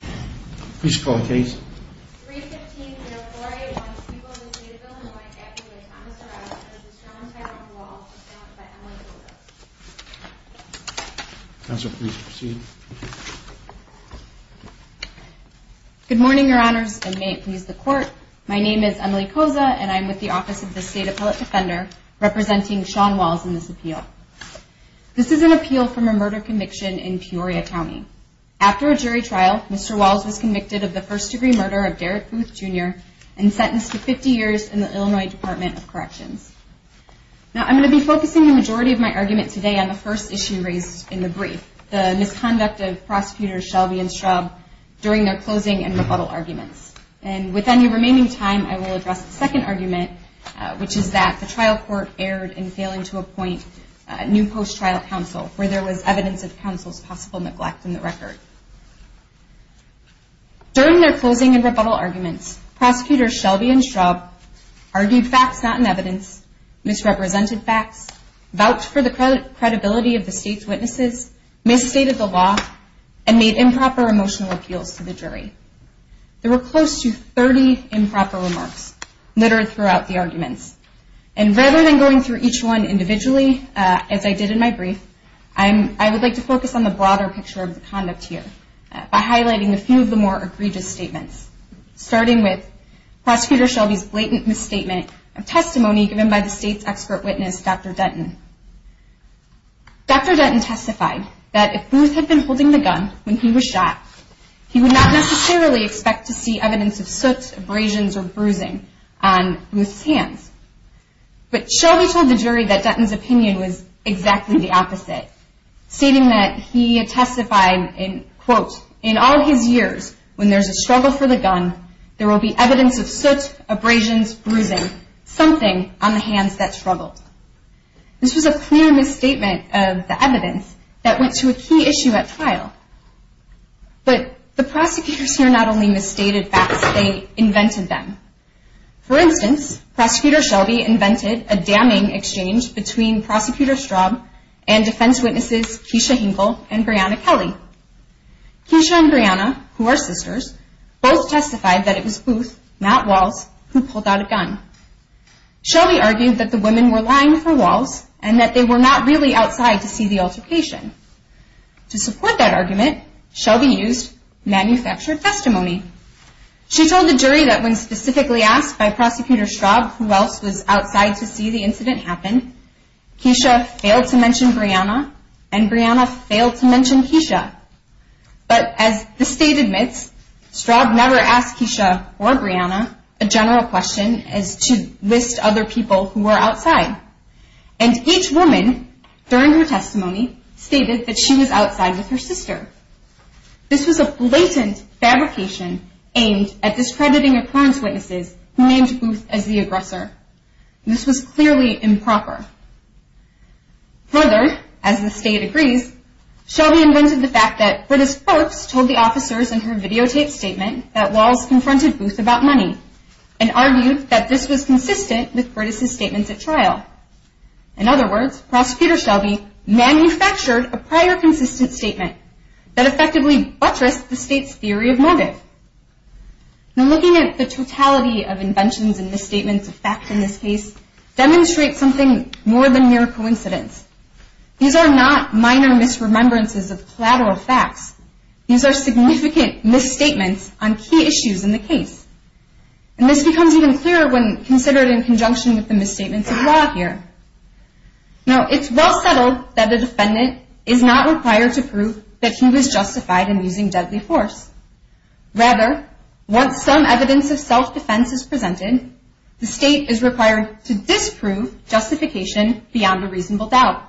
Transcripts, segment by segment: Good morning, Your Honors, and may it please the Court, my name is Emily Koza, and I'm with the Office of the State Appellate Defender, representing Sean Walls in this appeal. This is an appeal from a murder conviction in Peoria County. After a jury trial, Mr. Walls was convicted of the first degree murder of Derrick Booth, Jr., and sentenced to 50 years in the Illinois Department of Corrections. Now I'm going to be focusing the majority of my argument today on the first issue raised in the brief, the misconduct of Prosecutors Shelby and Straub during their closing and rebuttal arguments. And with any remaining time, I will address the second argument, which is that the trial court erred in failing to appoint a new post-trial counsel where there was evidence of counsel's possible neglect in the record. During their closing and rebuttal arguments, Prosecutors Shelby and Straub argued facts not in evidence, misrepresented facts, vouched for the credibility of the State's witnesses, misstated the law, and made improper emotional appeals to the jury. There were close to 30 improper remarks littered throughout the arguments. And rather than going through each one individually, as I did in my brief, I would like to focus on the broader picture of the conduct here by highlighting a few of the more egregious statements, starting with Prosecutor Shelby's blatant misstatement of testimony given by the State's expert witness, Dr. Denton. Dr. Denton testified that if Booth had been holding the gun when he was shot, he would not necessarily expect to see evidence of soots, abrasions, or bruising on Booth's hands. But Shelby told the jury that Denton's opinion was exactly the opposite, stating that he testified in, quote, in all his years, when there's a struggle for the gun, there will be evidence of soots, abrasions, bruising, something on the hands that struggled. This was a clear misstatement of the evidence that went to a key issue at trial. But the prosecutors here not only misstated facts, they invented them. For instance, Prosecutor Shelby invented a damning exchange between Prosecutor Straub and defense witnesses Keisha Hinkle and Brianna Kelly. Keisha and Brianna, who are sisters, both testified that it was Booth, not Walz, who pulled out a gun. Shelby argued that the women were lying for Walz and that they were not really outside to see the altercation. To support that argument, Shelby used manufactured testimony. She told the jury that when specifically asked by Prosecutor Straub who else was outside to see the incident happen, Keisha failed to mention Brianna and Brianna failed to mention Keisha. But as the state admits, Straub never asked Keisha or Brianna a general question as to list other people who were outside. And each woman, during her testimony, stated that she was outside with her sister. This was a blatant fabrication aimed at discrediting occurrence witnesses who named Booth as the aggressor. This was clearly improper. Further, as the state agrees, Shelby invented the fact that British folks told the officers in her videotape statement that Walz confronted Booth about money and argued that this was consistent with British's statements at trial. In other words, Prosecutor Shelby manufactured a prior consistent statement that effectively buttressed the state's theory of motive. Now looking at the totality of inventions and misstatements of facts in this case demonstrates something more than mere coincidence. These are not minor misremembrances of collateral facts. These are significant misstatements on key issues in the case. And this becomes even clearer when considered in conjunction with the misstatements of law here. Now it's well settled that the defendant is not required to prove that he was justified in using deadly force. Rather, once some evidence of self-defense is presented, the state is required to disprove justification beyond a reasonable doubt.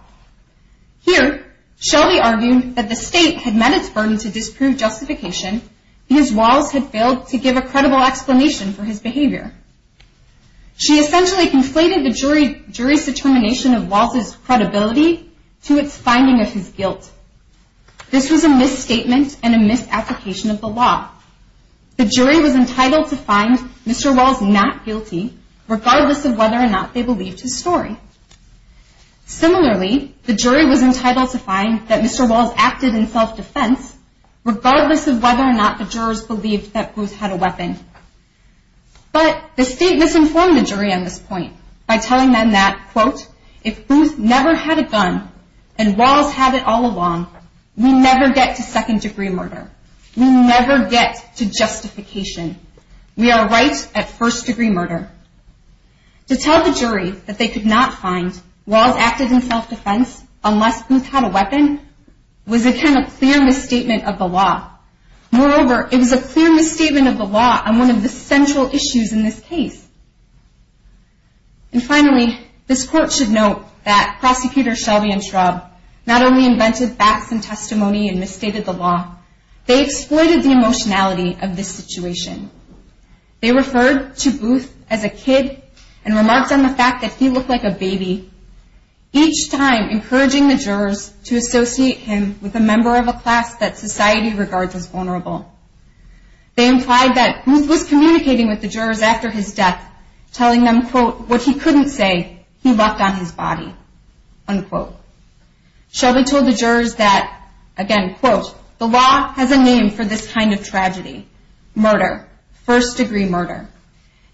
Here, Shelby argued that the state had met its burden to disprove justification because Walz had failed to give a credible explanation for his behavior. She essentially conflated the jury's determination of Walz's credibility to its finding of his guilt. This was a misstatement and a misapplication of the law. The jury was entitled to find Mr. Walz not guilty, regardless of whether or not they believed his story. Similarly, the jury was entitled to find that Mr. Walz acted in self-defense, regardless of whether or not the jurors believed that Booth had a weapon. But the state misinformed the jury on this point by telling them that, quote, if Booth never had a gun and Walz had it all along, we never get to second-degree murder. We never get to justification. We are right at first-degree murder. To tell the jury that they could not find Walz acted in self-defense unless Booth had a weapon was, again, a clear misstatement of the law. Moreover, it was a clear misstatement of the law on one of the central issues in this case. And finally, this court should note that Prosecutor Shelby and Schraub not only invented facts and testimony and misstated the law, they exploited the emotionality of this situation. They referred to Booth as a kid and remarks on the fact that he looked like a baby, each time encouraging the jurors to associate him with a member of a class that society regards as vulnerable. They implied that Booth was communicating with the jurors after his death, telling them, quote, what he couldn't say, he left on his body, unquote. Shelby told the jurors that, again, quote, the law has a name for this kind of tragedy, murder, first-degree murder.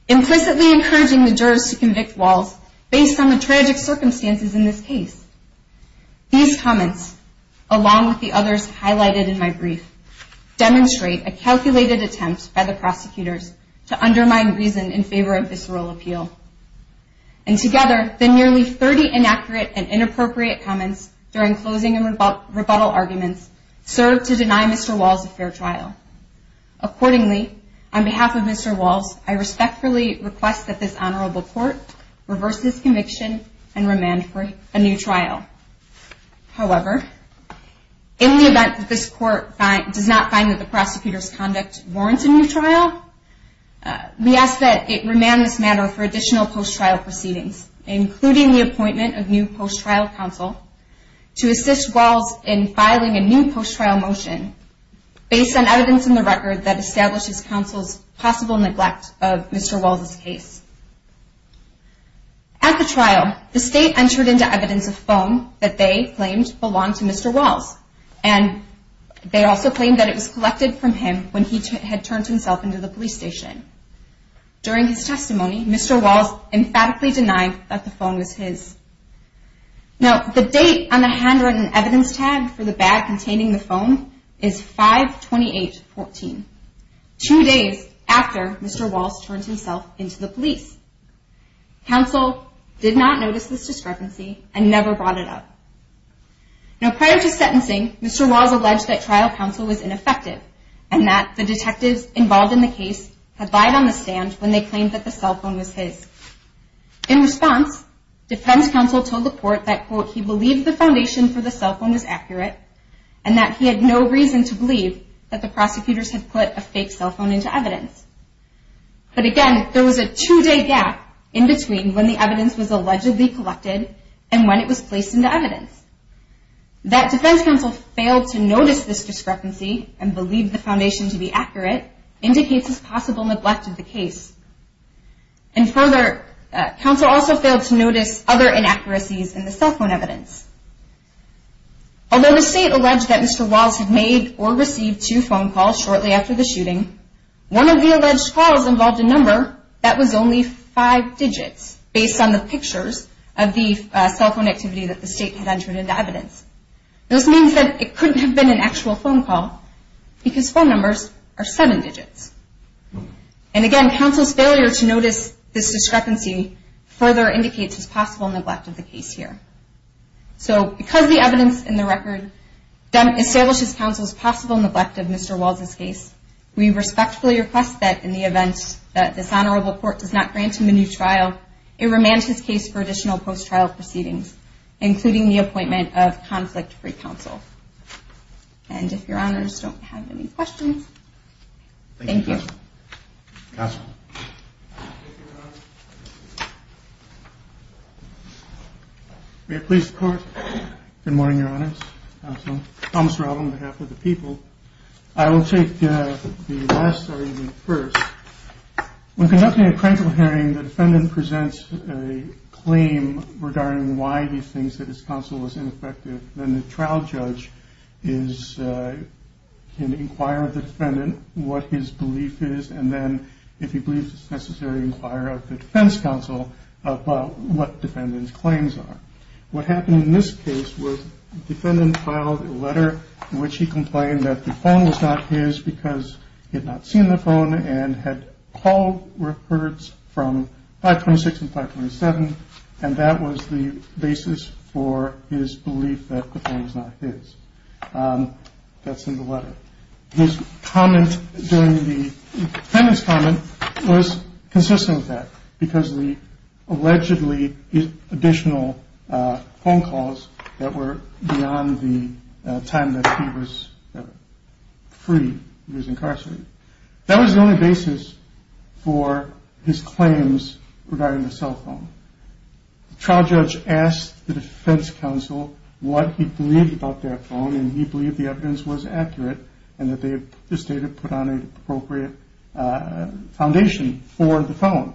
Implicitly encouraging the jurors to convict Walz based on the tragic circumstances in this case. These comments, along with the others highlighted in my brief, demonstrate a calculated attempt by the prosecutors to undermine reason in favor of visceral appeal. And together, the nearly 30 inaccurate and inappropriate comments during closing and rebuttal arguments served to deny Mr. Walz a fair trial. Accordingly, on behalf of Mr. Walz, I respectfully request that this honorable court reverse this conviction and remand for a new trial. However, in the event that this court does not find that the prosecutor's conduct warrants a new trial, we ask that it remand this matter for additional post-trial proceedings, including the appointment of new post-trial counsel to assist Walz in filing a new post-trial motion based on evidence in the record that establishes counsel's possible neglect of Mr. Walz's case. At the trial, the state entered into evidence a phone that they claimed belonged to Mr. Walz, and they also claimed that it was collected from him when he had turned himself into the police station. During his testimony, Mr. Walz emphatically denied that the phone was his. Now, the date on the handwritten evidence tag for the bag containing the phone is 5-28-14, two days after Mr. Walz turned himself into the police. Counsel did not notice this discrepancy and never brought it up. Now, prior to sentencing, Mr. Walz alleged that trial counsel was ineffective and that the detectives involved in the case had lied on the stand when they claimed that the cell phone was his. In response, defense counsel told the court that, quote, he believed the foundation for the cell phone was accurate and that he had no reason to believe that the prosecutors had put a fake cell phone into evidence. But again, there was a two-day gap in between when the evidence was allegedly collected and when it was placed into evidence. That defense counsel failed to notice this discrepancy and believed the foundation to be accurate indicates this possible neglect of the case. And further, counsel also failed to notice other inaccuracies in the cell phone evidence. Although the state alleged that Mr. Walz had made or received two phone calls shortly after the shooting, one of the alleged calls involved a number that was only five digits, based on the pictures of the cell phone activity that the state had entered into evidence. This means that it couldn't have been an actual phone call because phone numbers are seven digits. And again, counsel's failure to notice this discrepancy further indicates this possible neglect of the case here. So because the evidence in the record establishes counsel's possible neglect of Mr. Walz's case, we respectfully request that in the event that this honorable court does not grant him a new trial, it remains his case for additional post-trial proceedings, including the appointment of conflict-free counsel. And if your honors don't have any questions, thank you. Thank you, counsel. May it please the court. Good morning, your honors, counsel. Thomas Rattle on behalf of the people. I will take the last argument first. When conducting a criminal hearing, the defendant presents a claim regarding why he thinks that his counsel was ineffective. Then the trial judge can inquire of the defendant what his belief is, and then if he believes it's necessary, inquire of the defense counsel about what the defendant's claims are. What happened in this case was the defendant filed a letter in which he complained that the phone was not his because he had not seen the phone and had called records from 526 and 527, and that was the basis for his belief that the phone was not his. That's in the letter. His comment during the defendant's comment was consistent with that because the allegedly additional phone calls that were beyond the time that he was free, he was incarcerated. That was the only basis for his claims regarding the cell phone. The trial judge asked the defense counsel what he believed about that phone, and he believed the evidence was accurate and that the state had put on an appropriate foundation for the phone.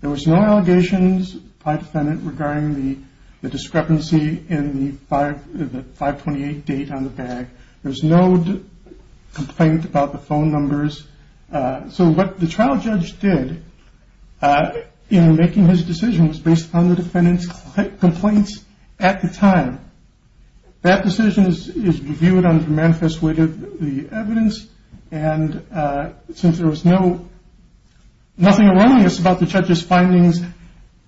There was no allegations by the defendant regarding the discrepancy in the 528 date on the bag. There was no complaint about the phone numbers. So what the trial judge did in making his decision was based on the defendant's complaints at the time. That decision is viewed under manifest with the evidence, and since there was nothing erroneous about the judge's findings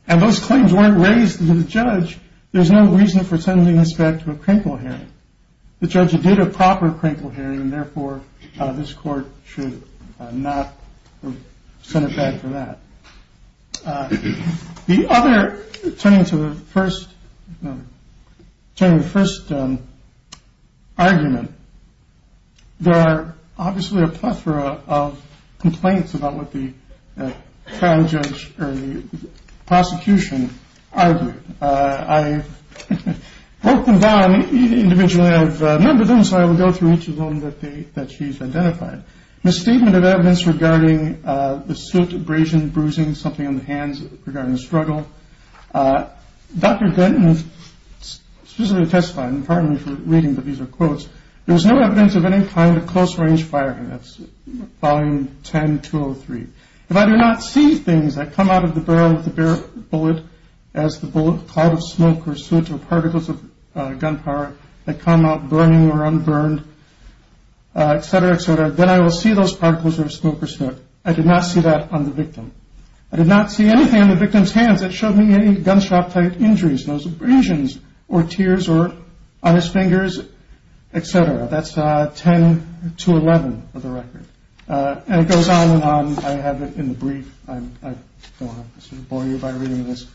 and those claims weren't raised to the judge, there's no reason for sending this back to a crinkle hearing. The judge did a proper crinkle hearing, and therefore this court should not send it back for that. Turning to the first argument, there are obviously a plethora of complaints about what the prosecution argued. I've broken them down individually. I've numbered them, so I will go through each of them that she's identified. Misstatement of evidence regarding the suit, abrasion, bruising, something on the hands regarding the struggle. Dr. Denton specifically testified, and pardon me for reading, but these are quotes. There was no evidence of any kind of close-range firing. That's Volume 10, 203. If I do not see things that come out of the barrel of the bullet as the bullet, cloud of smoke, or suit, or particles of gunpowder that come out burning or unburned, etc., etc., then I will see those particles of smoke or suit. I did not see that on the victim. I did not see anything on the victim's hands that showed me any gunshot-type injuries, no abrasions or tears on his fingers, etc. That's 10 to 11 for the record. And it goes on and on. I have it in the brief. I don't want to bore you by reading this.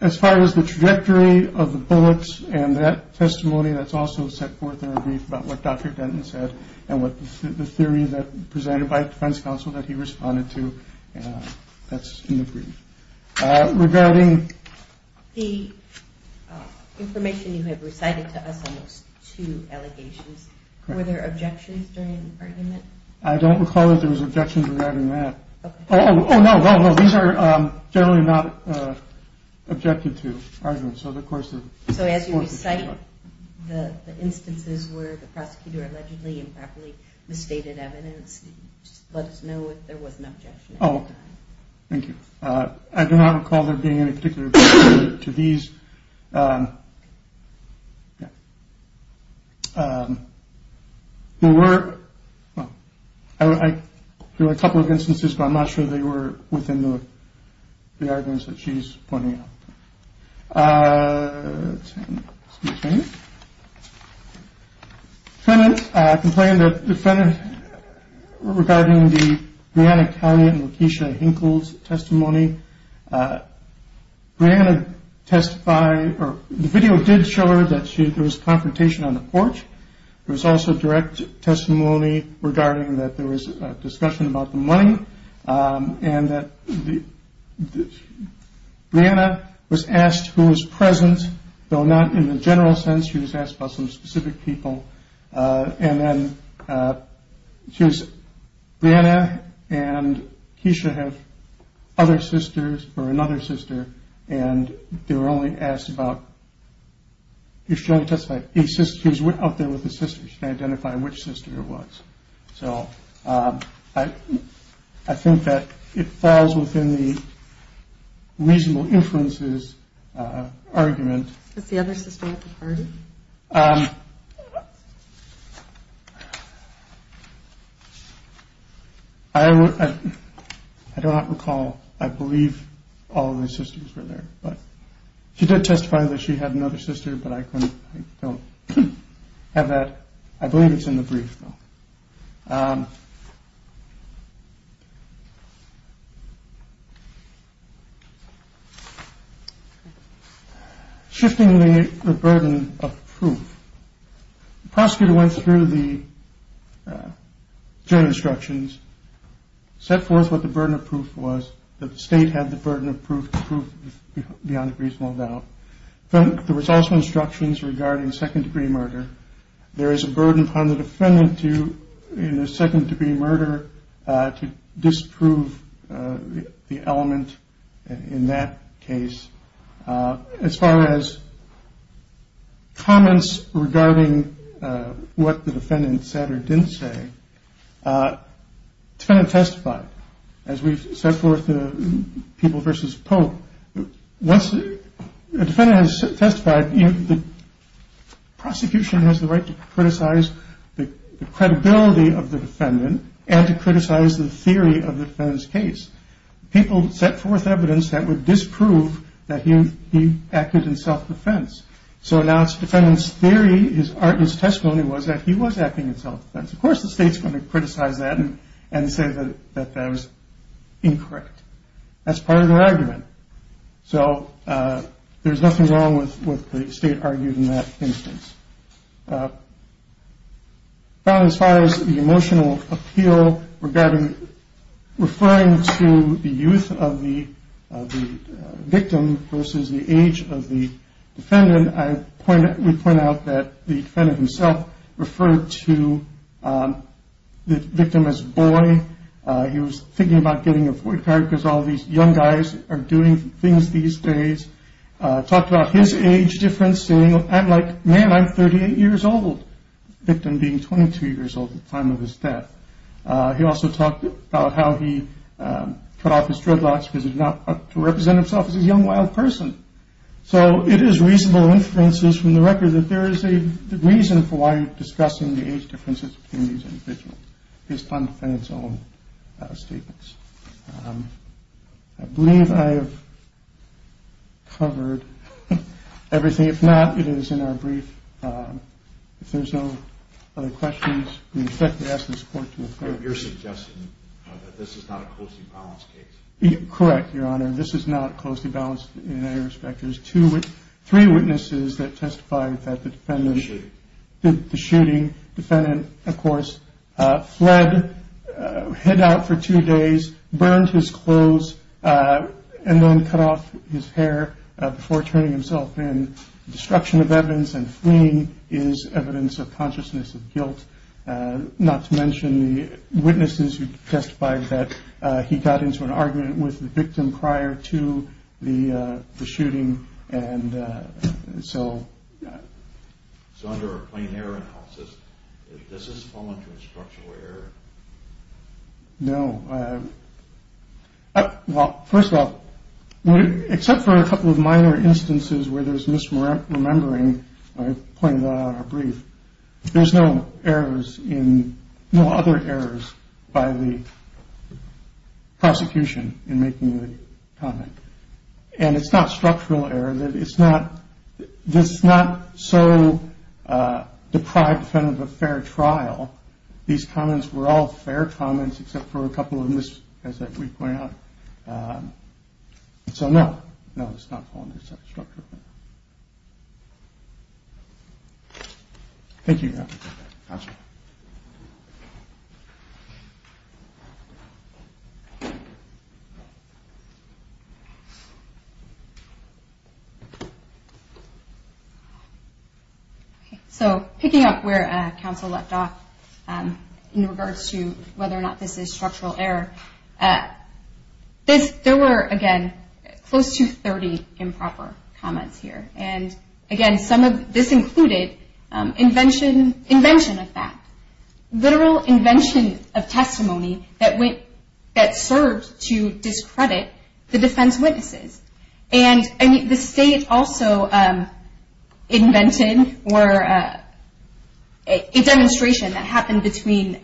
As far as the trajectory of the bullets and that testimony, that's also set forth in the brief about what Dr. Denton said and what the theory presented by the defense counsel that he responded to. That's in the brief. Regarding the information you have recited to us on those two allegations, were there objections during the argument? I don't recall that there was objections regarding that. Oh, no, no, no. These are generally not objected to arguments. So as you recite the instances where the prosecutor allegedly improperly misstated evidence, just let us know if there was an objection. Oh, thank you. I do not recall there being any particular objection to these. There were a couple of instances, but I'm not sure they were within the arguments that she's pointing out. Let's see. Defendant complained that the defendant, regarding the Brianna Conant and Lakeisha Hinkle's testimony, Brianna testified, or the video did show her that there was confrontation on the porch. There was also direct testimony regarding that there was a discussion about the money and that Brianna was asked who was present, though not in the general sense. She was asked about some specific people. And then Brianna and Keisha have other sisters or another sister, and they were only asked about if she wanted to testify. She was out there with a sister. She can identify which sister it was. So I think that it falls within the reasonable inferences argument. Was the other sister at the party? I do not recall. I believe all of the sisters were there. She did testify that she had another sister, but I don't have that. I believe it's in the brief. Shifting the burden of proof. The prosecutor went through the jury instructions, set forth what the burden of proof was, that the state had the burden of proof beyond a reasonable doubt. There was also instructions regarding second-degree murder. There is a burden upon the defendant in a second-degree murder to disprove the element in that case. As far as comments regarding what the defendant said or didn't say, the defendant testified. As we set forth the people versus Pope, once the defendant has testified, the prosecution has the right to criticize the credibility of the defendant and to criticize the theory of the defendant's case. People set forth evidence that would disprove that he acted in self-defense. So now the defendant's theory, his testimony was that he was acting in self-defense. Of course the state's going to criticize that and say that that was incorrect. That's part of their argument. So there's nothing wrong with what the state argued in that instance. As far as the emotional appeal regarding referring to the youth of the victim versus the age of the defendant, we point out that the defendant himself referred to the victim as boy. He was thinking about getting a Ford car because all these young guys are doing things these days. He talked about his age difference saying, I'm like, man, I'm 38 years old, the victim being 22 years old at the time of his death. He also talked about how he cut off his dreadlocks because he did not represent himself as a young, wild person. So it is reasonable inferences from the record that there is a reason for why you're discussing the age differences between these individuals based on the defendant's own statements. I believe I have covered everything. If not, it is in our brief. If there's no other questions, we expect to ask this court to approve. You're suggesting that this is not a closely balanced case? Correct, Your Honor. This is not closely balanced in any respect. There's three witnesses that testified that the shooting defendant, of course, fled, hid out for two days, burned his clothes, and then cut off his hair before turning himself in. Destruction of evidence and fleeing is evidence of consciousness of guilt, not to mention the witnesses who testified that he got into an argument with the victim prior to the shooting. And so. So under a plain error analysis, does this fall into a structural error? No. Well, first of all, except for a couple of minor instances where there's misremembering, I've pointed that out in our brief, there's no errors in, no other errors by the prosecution in making the comment. And it's not structural error. It's not, it's not so deprived of a fair trial. These comments were all fair comments except for a couple of missed, as we point out. So no. No, it's not falling into structural error. Thank you, Your Honor. Counsel. Okay. So picking up where counsel left off in regards to whether or not this is structural error, this, there were, again, close to 30 improper comments here. And, again, some of this included invention of that. Literal invention of testimony that served to discredit the defense witnesses. And the state also invented a demonstration that happened between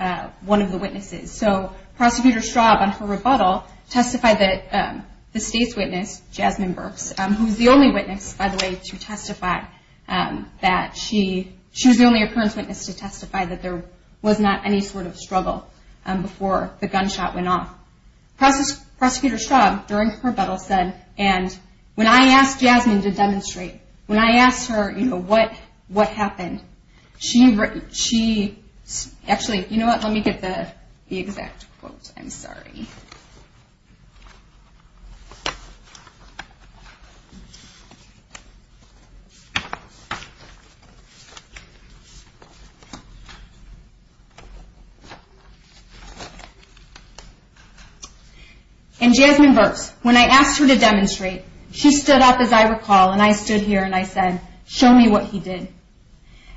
one of the witnesses. So Prosecutor Straub, on her rebuttal, testified that the state's witness, Jasmine Burks, who was the only witness, by the way, to testify that she, she was the only occurrence witness to testify that there was not any sort of struggle before the gunshot went off. Prosecutor Straub, during her rebuttal, said, and when I asked Jasmine to demonstrate, when I asked her, you know, what happened, she, actually, you know what, let me get the exact quote. I'm sorry. And Jasmine Burks, when I asked her to demonstrate, she stood up, as I recall, and I stood here and I said, show me what he did.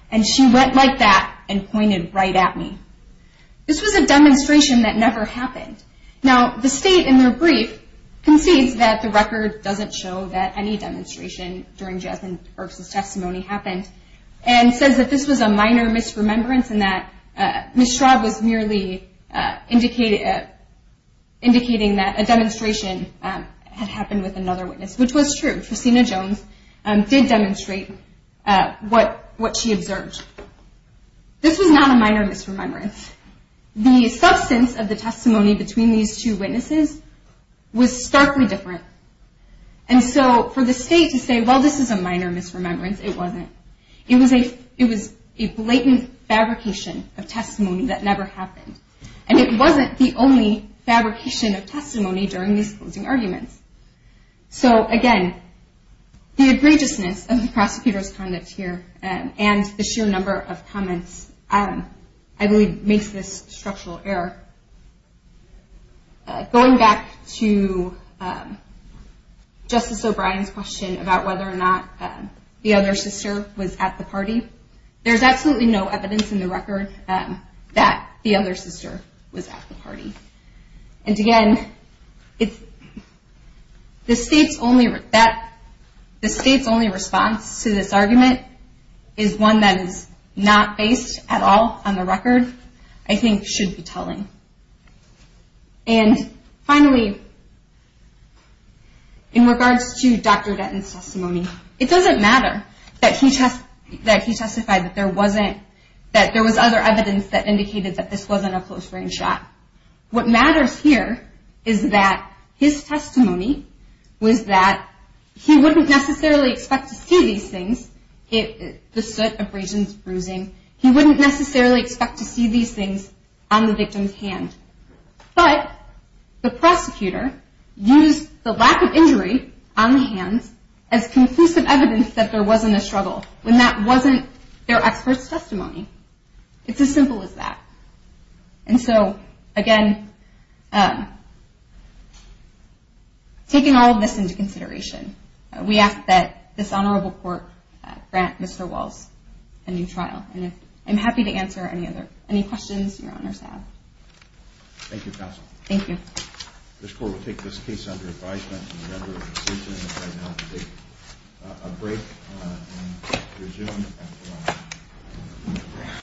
And she went like that and pointed right at me. This was a demonstration that never happened. Now, the state, in their brief, concedes that the record doesn't show that any demonstration during Jasmine Burks' testimony happened, and says that this was a minor misremembrance and that Ms. Straub was merely indicating that a demonstration had happened with another witness, which was true. Christina Jones did demonstrate what she observed. This was not a minor misremembrance. The substance of the testimony between these two witnesses was starkly different. And so, for the state to say, well, this is a minor misremembrance, it wasn't. It was a blatant fabrication of testimony that never happened. And it wasn't the only fabrication of testimony during these closing arguments. So, again, the egregiousness of the prosecutor's conduct here and the sheer number of comments, I believe, makes this structural error. Going back to Justice O'Brien's question about whether or not the other sister was at the party, there's absolutely no evidence in the record that the other sister was at the party. And again, the state's only response to this argument is one that is not based at all on the record. I think should be telling. And finally, in regards to Dr. Gatton's testimony, it doesn't matter that he testified that there was other evidence that indicated that this wasn't a close-range shot. What matters here is that his testimony was that he wouldn't necessarily expect to see these things, the soot, abrasions, bruising, he wouldn't necessarily expect to see these things on the victim's hand. But the prosecutor used the lack of injury on the hands as conclusive evidence that there wasn't a struggle, when that wasn't their expert's testimony. It's as simple as that. And so, again, taking all of this into consideration, we ask that this Honorable Court grant Mr. Walls a new trial. And I'm happy to answer any questions your Honors have. Thank you, Counsel. Thank you. This Court will take this case under advisement. The members of the procedure have now to take a break and resume after lunch.